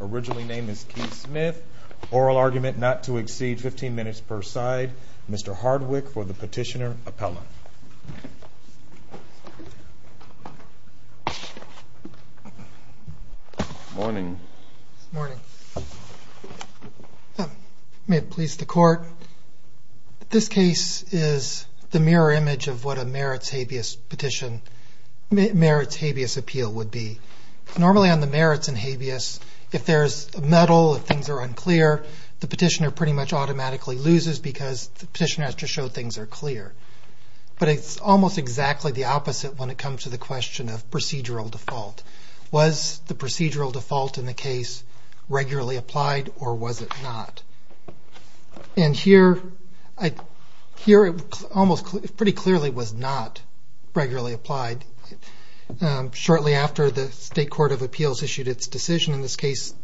originally named as Keith Smith, oral argument not to exceed 15 minutes per side. Mr. Hardwick for the petitioner appellate. Morning. Morning. May it please the court that the petitioner, Mr. Hardwick, has been found guilty This case is the mirror image of what a merits habeas petition, merits habeas appeal would be. Normally on the merits and habeas, if there's a muddle, if things are unclear, the petitioner pretty much automatically loses because the petitioner has to show things are clear. But it's almost exactly the opposite when it comes to the question of procedural default. Was the procedural default in the case regularly applied or was it not? And here it pretty clearly was not regularly applied. Shortly after the State Court of Appeals issued its decision in this case,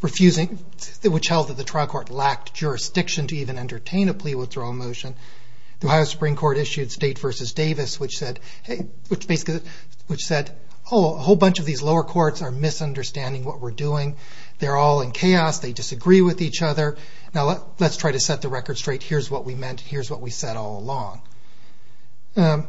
which held that the trial court lacked jurisdiction to even entertain a plea withdrawal motion, the Ohio Supreme Court issued State v. Davis, which said a whole bunch of these lower courts are misunderstanding what we're doing. They're all in chaos. They disagree with each other. Now let's try to set the record straight. Here's what we meant. Here's what we said all along. I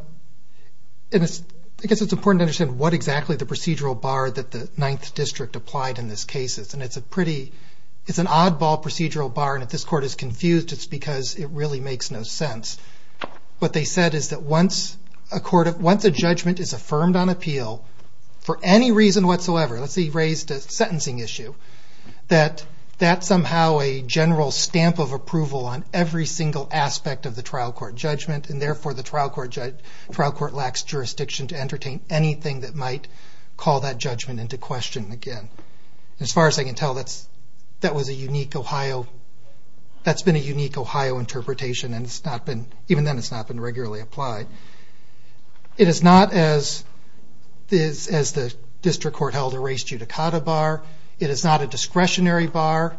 guess it's important to understand what exactly the procedural bar that the Ninth District applied in this case is. It's an oddball procedural bar. If this court is confused, it's because it really makes no sense. What they said is that once a judgment is affirmed on appeal, for any reason whatsoever, let's say he raised a sentencing issue, that that's somehow a general stamp of approval on every single aspect of the trial court judgment, and therefore the trial court lacks jurisdiction to entertain anything that might call that judgment into question again. As far as I can tell, that's been a unique Ohio interpretation, and even then it's not been regularly applied. It is not, as the district court held, a race judicata bar. It is not a discretionary bar.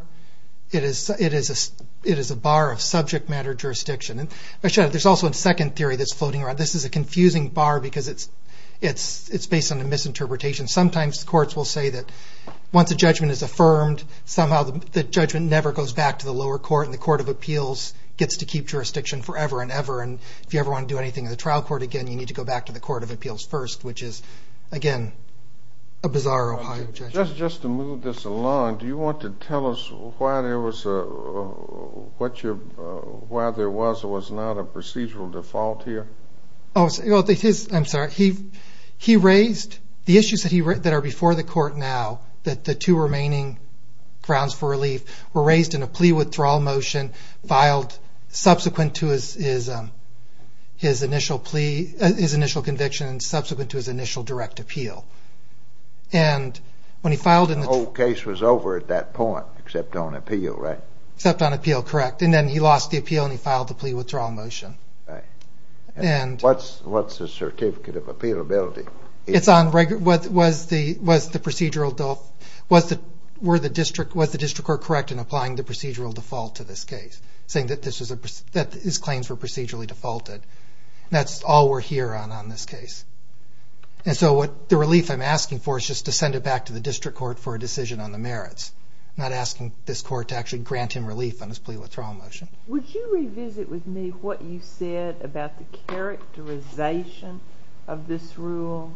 It is a bar of subject matter jurisdiction. There's also a second theory that's floating around. This is a confusing bar because it's based on a misinterpretation. Sometimes courts will say that once a judgment is affirmed, somehow the judgment never goes back to the lower court, and the court of appeals gets to keep jurisdiction forever and ever, and if you ever want to do anything in the trial court again, you need to go back to the court of appeals first, which is, again, a bizarre Ohio judgment. Just to move this along, do you want to tell us why there was not a procedural default here? I'm sorry. The issues that are before the court now, the two remaining grounds for relief, were raised in a plea withdrawal motion filed subsequent to his initial conviction and subsequent to his initial direct appeal. The whole case was over at that point, except on appeal, right? Except on appeal, correct, and then he lost the appeal and he filed the plea withdrawal motion. What's the certificate of appealability? It's on whether the district court was correct in applying the procedural default to this case, saying that his claims were procedurally defaulted. That's all we're hearing on this case. The relief I'm asking for is just to send it back to the district court for a decision on the merits, not asking this court to actually grant him relief on his plea withdrawal motion. Would you revisit with me what you said about the characterization of this rule?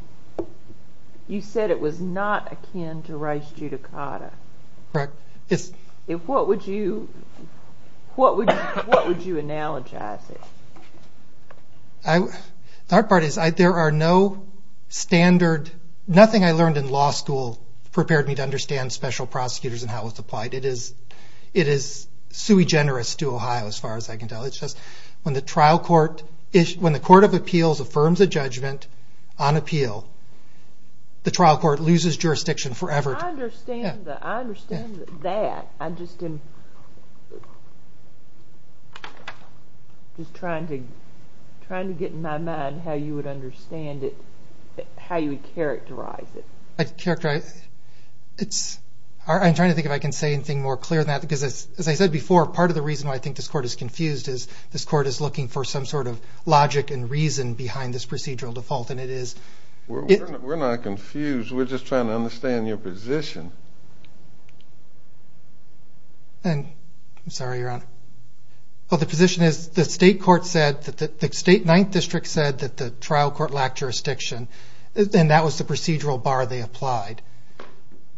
You said it was not akin to race judicata. Correct. What would you analogize it? The hard part is, nothing I learned in law school prepared me to understand special prosecutors and how it's applied. It is sui generis to Ohio, as far as I can tell. When the court of appeals affirms a judgment on appeal, the trial court loses jurisdiction forever. I understand that. I'm just trying to get in my mind how you would characterize it. I'm trying to think if I can say anything more clear than that. As I said before, part of the reason why I think this court is confused is this court is looking for some sort of logic and reason behind this procedural default. We're not confused. We're just trying to understand your position. I'm sorry, Your Honor. The position is the state ninth district said that the trial court lacked jurisdiction, and that was the procedural bar they applied.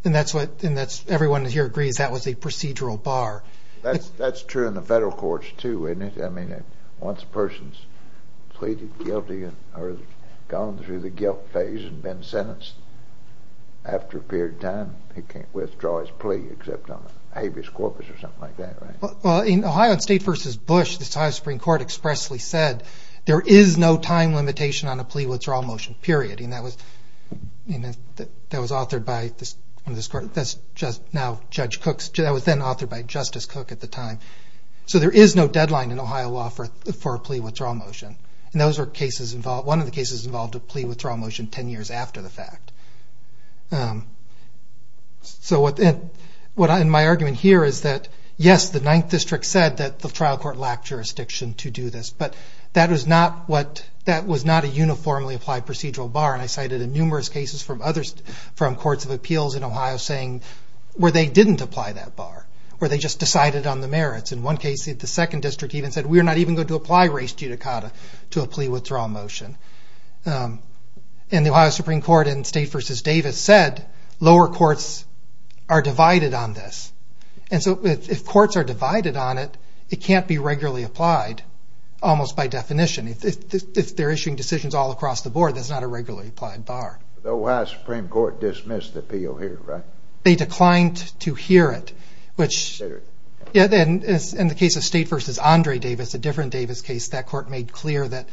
Everyone here agrees that was a procedural bar. That's true in the federal courts, too, isn't it? Once a person's pleaded guilty or has gone through the guilt phase and been sentenced, after a period of time, they can't withdraw his plea except on habeas corpus or something like that, right? In Ohio State v. Bush, the Ohio Supreme Court expressly said there is no time limitation on a plea withdrawal motion, period. That was then authored by Justice Cook at the time. So there is no deadline in Ohio law for a plea withdrawal motion. One of the cases involved a plea withdrawal motion ten years after the fact. My argument here is that, yes, the ninth district said that the trial court lacked jurisdiction to do this, but that was not a uniformly applied procedural bar. I cited numerous cases from courts of appeals in Ohio where they didn't apply that bar, where they just decided on the merits. In one case, the second district even said, we're not even going to apply res judicata to a plea withdrawal motion. The Ohio Supreme Court in State v. Davis said lower courts are divided on this. If courts are divided on it, it can't be regularly applied, almost by definition. If they're issuing decisions all across the board, that's not a regularly applied bar. The Ohio Supreme Court dismissed the appeal here, right? They declined to hear it. In the case of State v. Andre Davis, a different Davis case, that court made clear that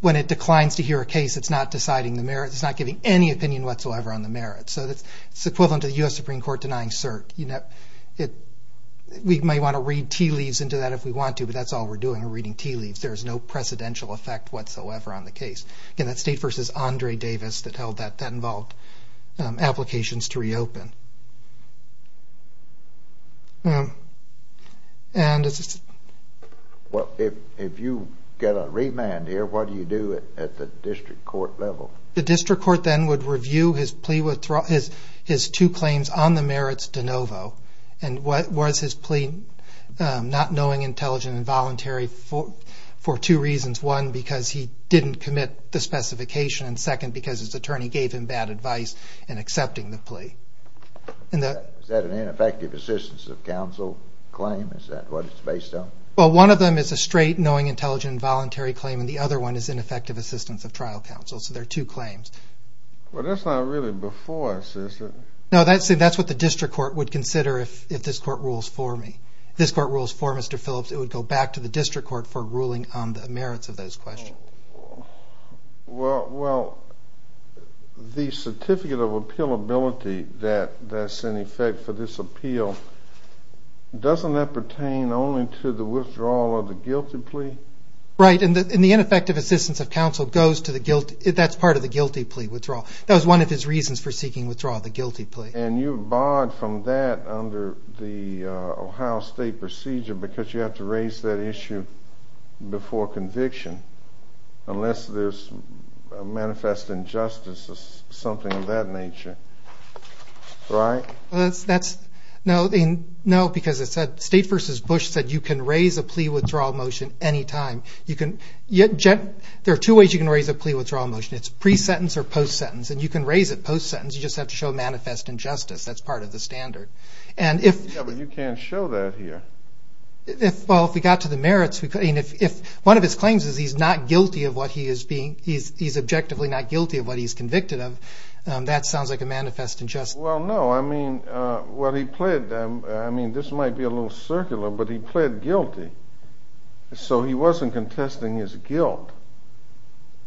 when it declines to hear a case, it's not deciding the merits. It's not giving any opinion whatsoever on the merits. So it's equivalent to the U.S. Supreme Court denying cert. We might want to read tea leaves into that if we want to, but that's all we're doing, we're reading tea leaves. There's no precedential effect whatsoever on the case. Again, that's State v. Andre Davis that held that that involved applications to reopen. Well, if you get a remand here, what do you do at the district court level? The district court then would review his two claims on the merits de novo, and was his plea not knowing, intelligent, and voluntary for two reasons. One, because he didn't commit the specification, and second, because his attorney gave him bad advice in accepting the plea. Is that an ineffective assistance of counsel claim? Is that what it's based on? Well, one of them is a straight knowing, intelligent, and voluntary claim, and the other one is ineffective assistance of trial counsel. So there are two claims. Well, that's not really before us, is it? No, that's what the district court would consider if this court rules for me. If this court rules for Mr. Phillips, it would go back to the district court for ruling on the merits of those questions. Well, the certificate of appealability that's in effect for this appeal, doesn't that pertain only to the withdrawal of the guilty plea? Right, and the ineffective assistance of counsel goes to the guilty. That's part of the guilty plea withdrawal. That was one of his reasons for seeking withdrawal, the guilty plea. And you barred from that under the Ohio State procedure because you have to raise that issue before conviction, unless there's a manifest injustice or something of that nature, right? No, because State v. Bush said you can raise a plea withdrawal motion any time. There are two ways you can raise a plea withdrawal motion. It's pre-sentence or post-sentence, and you can raise it post-sentence. You just have to show manifest injustice. That's part of the standard. Yeah, but you can't show that here. Well, if we got to the merits, if one of his claims is he's objectively not guilty of what he's convicted of, that sounds like a manifest injustice. Well, no. I mean, this might be a little circular, but he pled guilty. So he wasn't contesting his guilt.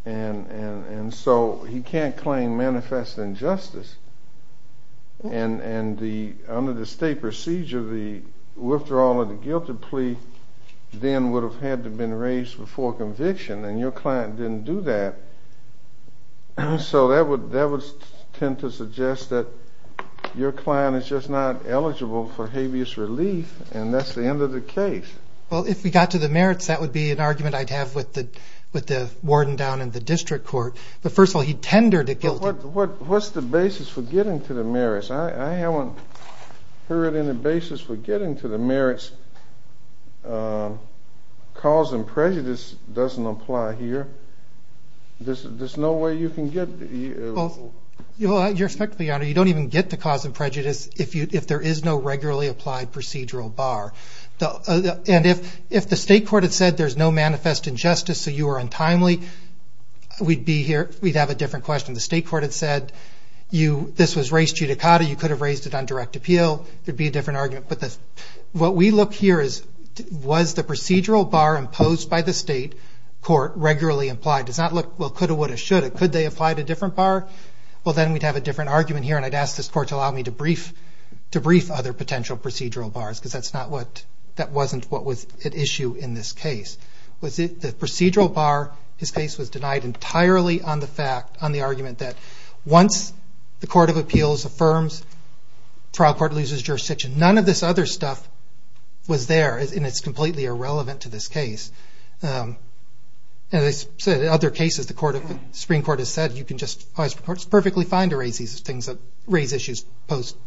And so he can't claim manifest injustice. And under the State procedure, the withdrawal of the guilty plea then would have had to have been raised before conviction, and your client didn't do that. So that would tend to suggest that your client is just not eligible for habeas relief, and that's the end of the case. Well, if we got to the merits, that would be an argument I'd have with the warden down in the district court. But first of all, he tendered it guilty. But what's the basis for getting to the merits? I haven't heard any basis for getting to the merits. Cause and prejudice doesn't apply here. There's no way you can get to the merits. Your Excellency, Your Honor, you don't even get to cause and prejudice if there is no regularly applied procedural bar. And if the state court had said there's no manifest injustice, so you are untimely, we'd have a different question. The state court had said this was res judicata. You could have raised it on direct appeal. There would be a different argument. What we look here is, was the procedural bar imposed by the state court regularly applied? It does not look, well, coulda, woulda, shoulda. Could they have applied a different bar? Well, then we'd have a different argument here, and I'd ask this court to allow me to brief other potential procedural bars, because that wasn't what was at issue in this case. The procedural bar in this case was denied entirely on the argument that once the court of appeals affirms, trial court loses jurisdiction. None of this other stuff was there, and it's completely irrelevant to this case. As I said, in other cases, the Supreme Court has said you can just, it's perfectly fine to raise these things, raise issues post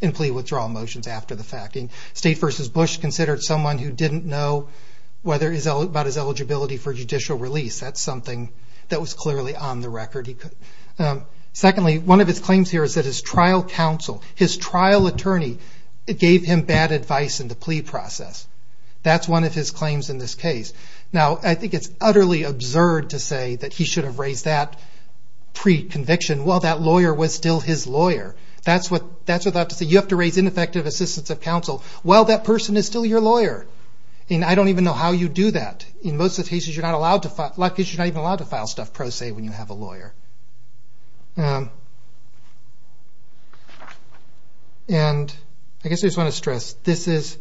and plea withdrawal motions after the fact. State versus Bush considered someone who didn't know whether, about his eligibility for judicial release. That's something that was clearly on the record. Secondly, one of his claims here is that his trial counsel, his trial attorney, gave him bad advice in the plea process. That's one of his claims in this case. Now, I think it's utterly absurd to say that he should have raised that pre-conviction. Well, that lawyer was still his lawyer. That's without to say, you have to raise ineffective assistance of counsel. Well, that person is still your lawyer, and I don't even know how you do that. In most of the cases, you're not even allowed to file stuff pro se when you have a lawyer. And I guess I just want to stress, this is,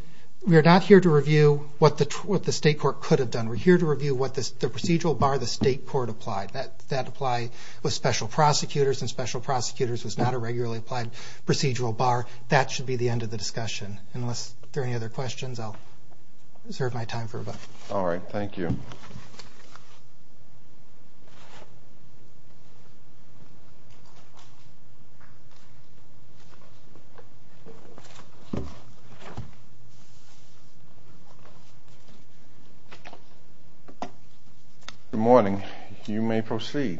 we are not here to review what the state court could have done. We're here to review what the procedural bar the state court applied. That apply with special prosecutors, and special prosecutors was not a regularly applied procedural bar. That should be the end of the discussion. All right. Thank you. Good morning. You may proceed.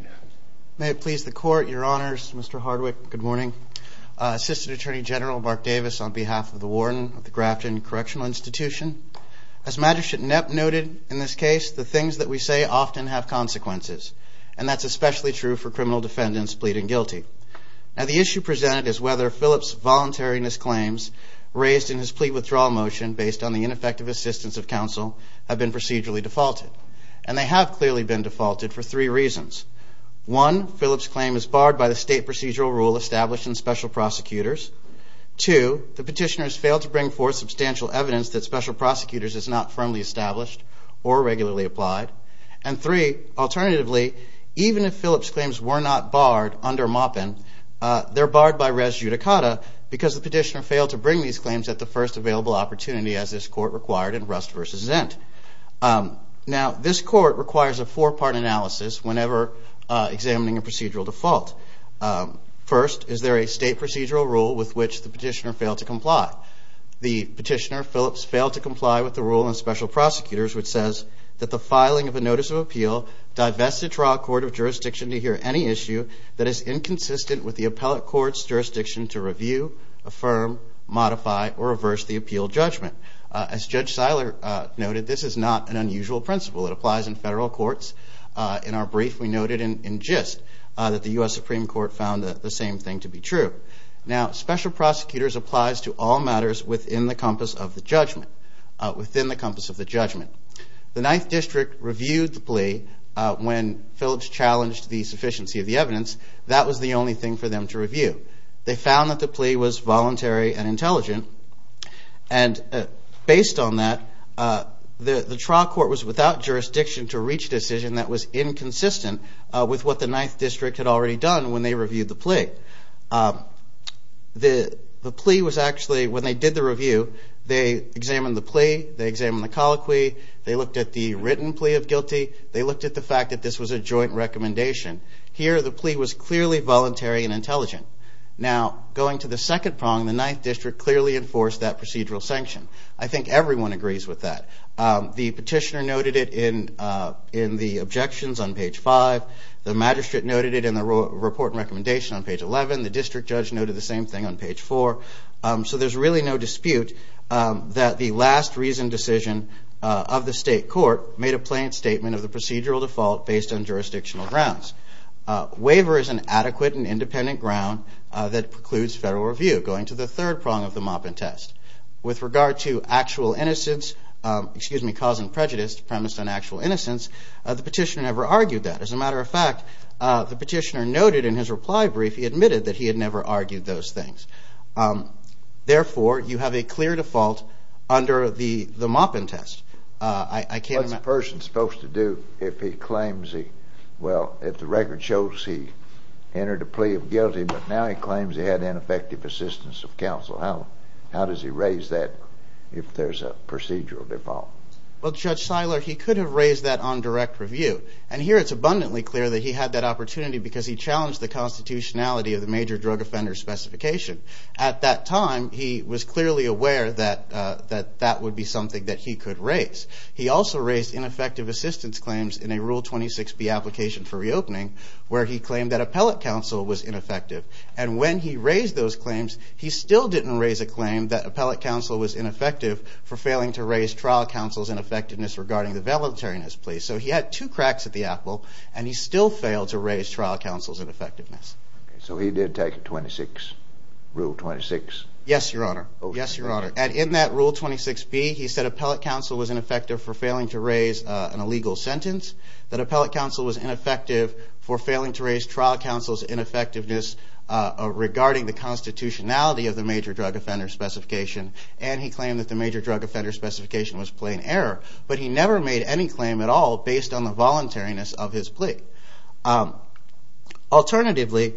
May it please the court, your honors, Mr. Hardwick, good morning. Assistant Attorney General Mark Davis on behalf of the warden of the Grafton Correctional Institution. As Magistrate Knapp noted in this case, the things that we say often have consequences. And that's especially true for criminal defendants pleading guilty. Now the issue presented is whether Phillips' voluntariness claims raised in his plea withdrawal motion based on the ineffective assistance of counsel have been procedurally defaulted. And they have clearly been defaulted for three reasons. One, Phillips' claim is barred by the state procedural rule established in special prosecutors. Two, the petitioners failed to bring forth substantial evidence that special prosecutors is not firmly established or regularly applied. And three, alternatively, even if Phillips' claims were not barred under Maupin, they're barred by res judicata because the petitioner failed to bring these claims at the first available opportunity as this court required in Rust v. Zint. Now this court requires a four-part analysis whenever examining a procedural default. First, is there a state procedural rule with which the petitioner failed to comply? The petitioner, Phillips, failed to comply with the rule in special prosecutors which says that the filing of a notice of appeal divests the trial court of jurisdiction to hear any issue that is inconsistent with the appellate court's jurisdiction to review, affirm, modify, or reverse the appeal judgment. As Judge Seiler noted, this is not an unusual principle. It applies in federal courts. In our brief, we noted in gist that the U.S. Supreme Court found the same thing to be true. Now special prosecutors applies to all matters within the compass of the judgment. Within the compass of the judgment. The Ninth District reviewed the plea when Phillips challenged the sufficiency of the evidence. That was the only thing for them to review. They found that the plea was voluntary and intelligent. And based on that, the trial court was without jurisdiction to reach a decision that was inconsistent with what the Ninth District had already done when they reviewed the plea. The plea was actually, when they did the review, they examined the plea, they examined the colloquy, they looked at the written plea of guilty, they looked at the fact that this was a joint recommendation. Here, the plea was clearly voluntary and intelligent. Now, going to the second prong, the Ninth District clearly enforced that procedural sanction. I think everyone agrees with that. The petitioner noted it in the objections on page 5. The magistrate noted it in the report and recommendation on page 11. The district judge noted the same thing on page 4. So there's really no dispute that the last reasoned decision of the state court made a plain statement of the procedural default based on jurisdictional grounds. Waiver is an adequate and independent ground that precludes federal review, going to the third prong of the Moppin Test. With regard to actual innocence, excuse me, cause and prejudice premised on actual innocence, the petitioner never argued that. As a matter of fact, the petitioner noted in his reply brief he admitted that he had never argued those things. Therefore, you have a clear default under the Moppin Test. What's a person supposed to do if he claims he, well, if the record shows he entered a plea of guilty, but now he claims he had ineffective assistance of counsel? How does he raise that if there's a procedural default? Well, Judge Seiler, he could have raised that on direct review. And here it's abundantly clear that he had that opportunity because he challenged the constitutionality of the major drug offender specification. At that time, he was clearly aware that that would be something that he could raise. He also raised ineffective assistance claims in a Rule 26B application for reopening where he claimed that appellate counsel was ineffective. And when he raised those claims, he still didn't raise a claim that appellate counsel was ineffective for failing to raise trial counsel's ineffectiveness regarding the valetarianist plea. So he had two cracks at the apple, and he still failed to raise trial counsel's ineffectiveness. So he did take Rule 26? Yes, Your Honor. Yes, Your Honor. And in that Rule 26B, he said appellate counsel was ineffective for failing to raise an illegal sentence, that appellate counsel was ineffective for failing to raise trial counsel's ineffectiveness regarding the constitutionality of the major drug offender specification, and he claimed that the major drug offender specification was plain error. But he never made any claim at all based on the voluntariness of his plea. Alternatively,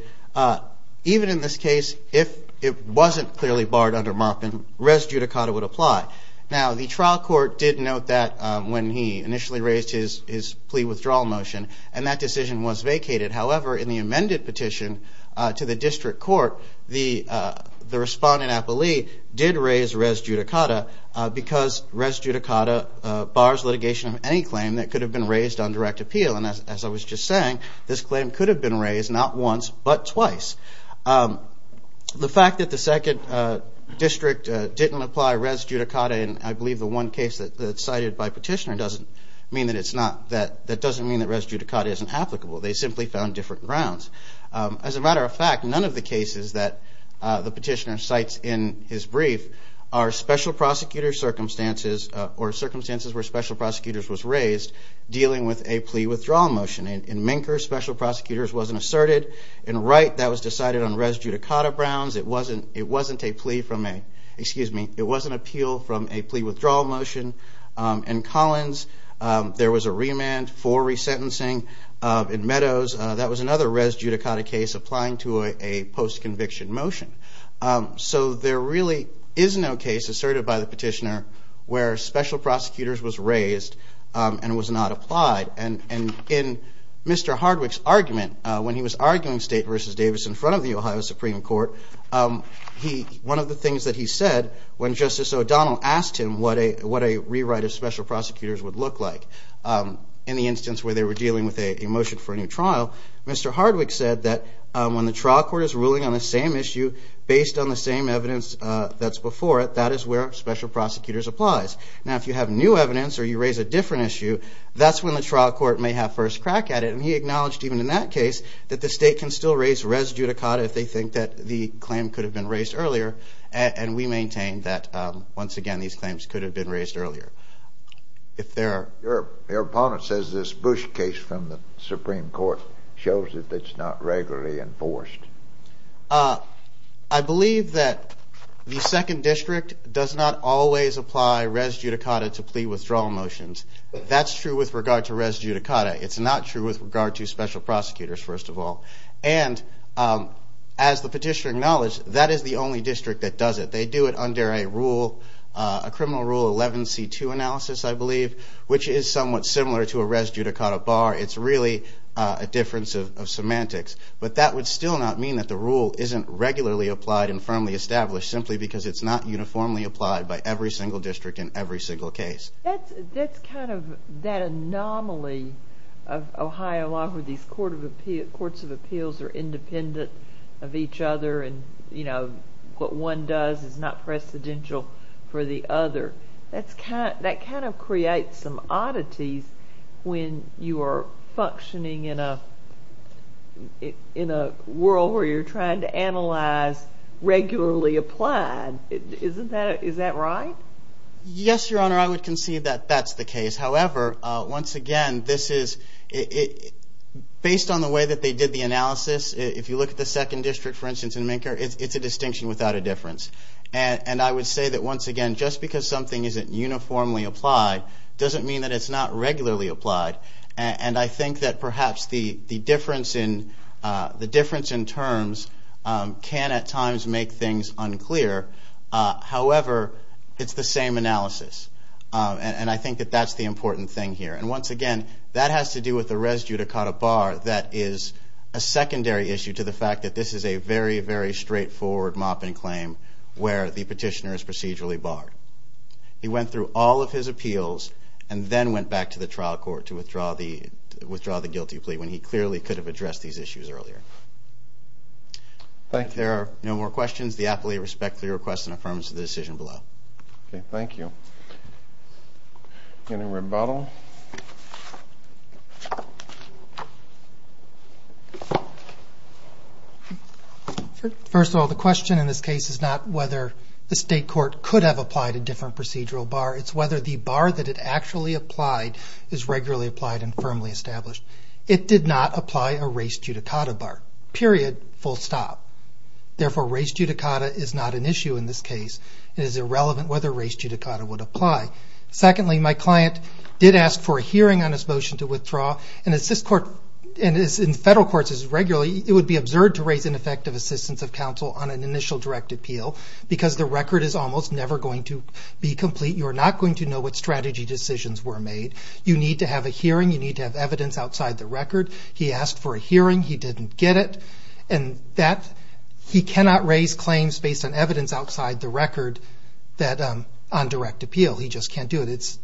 even in this case, if it wasn't clearly barred under Moffitt, res judicata would apply. Now, the trial court did note that when he initially raised his plea withdrawal motion, and that decision was vacated. However, in the amended petition to the district court, the respondent appellee did raise res judicata because res judicata bars litigation of any claim that could have been raised on direct appeal. And as I was just saying, this claim could have been raised not once, but twice. The fact that the second district didn't apply res judicata, and I believe the one case that's cited by petitioner doesn't mean that it's not, that doesn't mean that res judicata isn't applicable. They simply found different grounds. As a matter of fact, none of the cases that the petitioner cites in his brief are special prosecutor circumstances or circumstances where special prosecutors was raised dealing with a plea withdrawal motion. In Minker, special prosecutors wasn't asserted. In Wright, that was decided on res judicata grounds. It wasn't a plea from a, excuse me, it was an appeal from a plea withdrawal motion. In Collins, there was a remand for resentencing. In Meadows, that was another res judicata case applying to a post-conviction motion. So there really is no case asserted by the petitioner where special prosecutors was raised and was not applied. And in Mr. Hardwick's argument, when he was arguing State v. Davis in front of the Ohio Supreme Court, one of the things that he said when Justice O'Donnell asked him what a rewrite of special prosecutors would look like, in the instance where they were dealing with a motion for a new trial, Mr. Hardwick said that when the trial court is ruling on the same issue based on the same evidence that's before it, that is where special prosecutors applies. Now, if you have new evidence or you raise a different issue, that's when the trial court may have first crack at it. And he acknowledged even in that case that the State can still raise res judicata if they think that the claim could have been raised earlier. And we maintain that, once again, these claims could have been raised earlier. Your opponent says this Bush case from the Supreme Court shows that it's not regularly enforced. I believe that the Second District does not always apply res judicata to plea withdrawal motions. That's true with regard to res judicata. It's not true with regard to special prosecutors, first of all. And as the petitioner acknowledged, that is the only district that does it. But they do it under a rule, a criminal rule 11C2 analysis, I believe, which is somewhat similar to a res judicata bar. It's really a difference of semantics. But that would still not mean that the rule isn't regularly applied and firmly established, simply because it's not uniformly applied by every single district in every single case. That's kind of that anomaly of Ohio law, where these courts of appeals are independent of each other. And, you know, what one does is not precedential for the other. That kind of creates some oddities when you are functioning in a world where you're trying to analyze regularly applied. Isn't that right? Yes, Your Honor, I would concede that that's the case. However, once again, based on the way that they did the analysis, if you look at the second district, for instance, in Minker, it's a distinction without a difference. And I would say that, once again, just because something isn't uniformly applied doesn't mean that it's not regularly applied. And I think that perhaps the difference in terms can at times make things unclear. However, it's the same analysis. And I think that that's the important thing here. And, once again, that has to do with the res judicata bar that is a secondary issue to the fact that this is a very, very straightforward mopping claim where the petitioner is procedurally barred. He went through all of his appeals and then went back to the trial court to withdraw the guilty plea, when he clearly could have addressed these issues earlier. Thank you. If there are no more questions, the appellee respectfully requests an affirmation of the decision below. Okay, thank you. Any rebuttal? First of all, the question in this case is not whether the state court could have applied a different procedural bar. It's whether the bar that it actually applied is regularly applied and firmly established. It did not apply a res judicata bar, period, full stop. Therefore, res judicata is not an issue in this case. It is irrelevant whether res judicata would apply. Secondly, my client did ask for a hearing on his motion to withdraw. And in federal courts, it would be absurd to raise ineffective assistance of counsel on an initial direct appeal, because the record is almost never going to be complete. You are not going to know what strategy decisions were made. You need to have a hearing. You need to have evidence outside the record. He asked for a hearing. He didn't get it. And he cannot raise claims based on evidence outside the record on direct appeal. He just can't do it.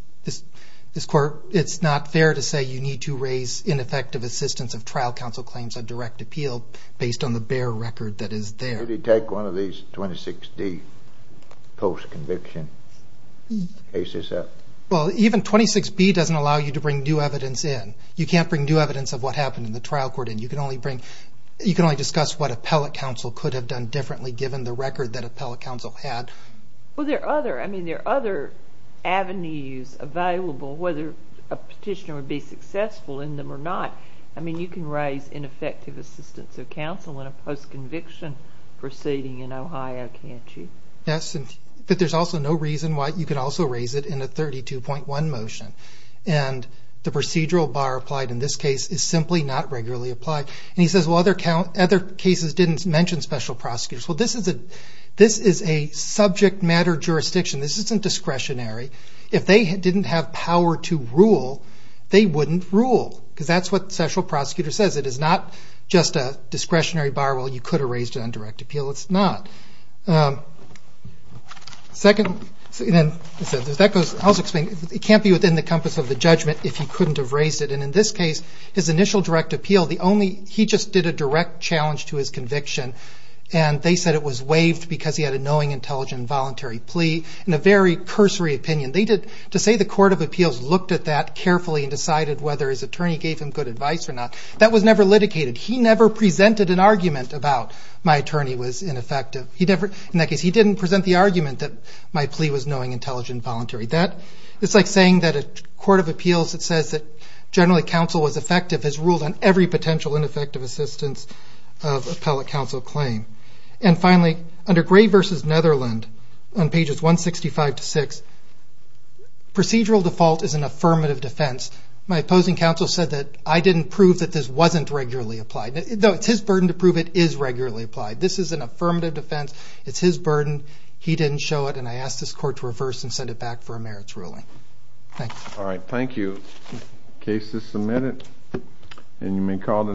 This court, it's not fair to say you need to raise ineffective assistance of trial counsel claims on direct appeal based on the bare record that is there. Could he take one of these 26D post-conviction cases up? Well, even 26B doesn't allow you to bring new evidence in. You can't bring new evidence of what happened in the trial court in. You can only discuss what appellate counsel could have done differently, given the record that appellate counsel had. Well, there are other avenues available, whether a petitioner would be successful in them or not. I mean, you can raise ineffective assistance of counsel in a post-conviction proceeding in Ohio, can't you? Yes, but there's also no reason why you could also raise it in a 32.1 motion. And the procedural bar applied in this case is simply not regularly applied. And he says, well, other cases didn't mention special prosecutors. Well, this is a subject matter jurisdiction. This isn't discretionary. If they didn't have power to rule, they wouldn't rule, because that's what the special prosecutor says. It is not just a discretionary bar where you could have raised it on direct appeal. It's not. Second, it can't be within the compass of the judgment if he couldn't have raised it. And in this case, his initial direct appeal, he just did a direct challenge to his conviction. And they said it was waived because he had a knowing, intelligent, voluntary plea and a very cursory opinion. To say the court of appeals looked at that carefully and decided whether his attorney gave him good advice or not, that was never litigated. He never presented an argument about my attorney was ineffective. In that case, he didn't present the argument that my plea was knowing, intelligent, voluntary. It's like saying that a court of appeals that says that generally counsel was effective has ruled on every potential ineffective assistance of appellate counsel claim. And finally, under Gray v. Netherlands, on pages 165 to 6, procedural default is an affirmative defense. My opposing counsel said that I didn't prove that this wasn't regularly applied. Though it's his burden to prove it is regularly applied. This is an affirmative defense. It's his burden. He didn't show it. And I ask this court to reverse and send it back for a merits ruling. Thanks. All right. Thank you. Case is submitted.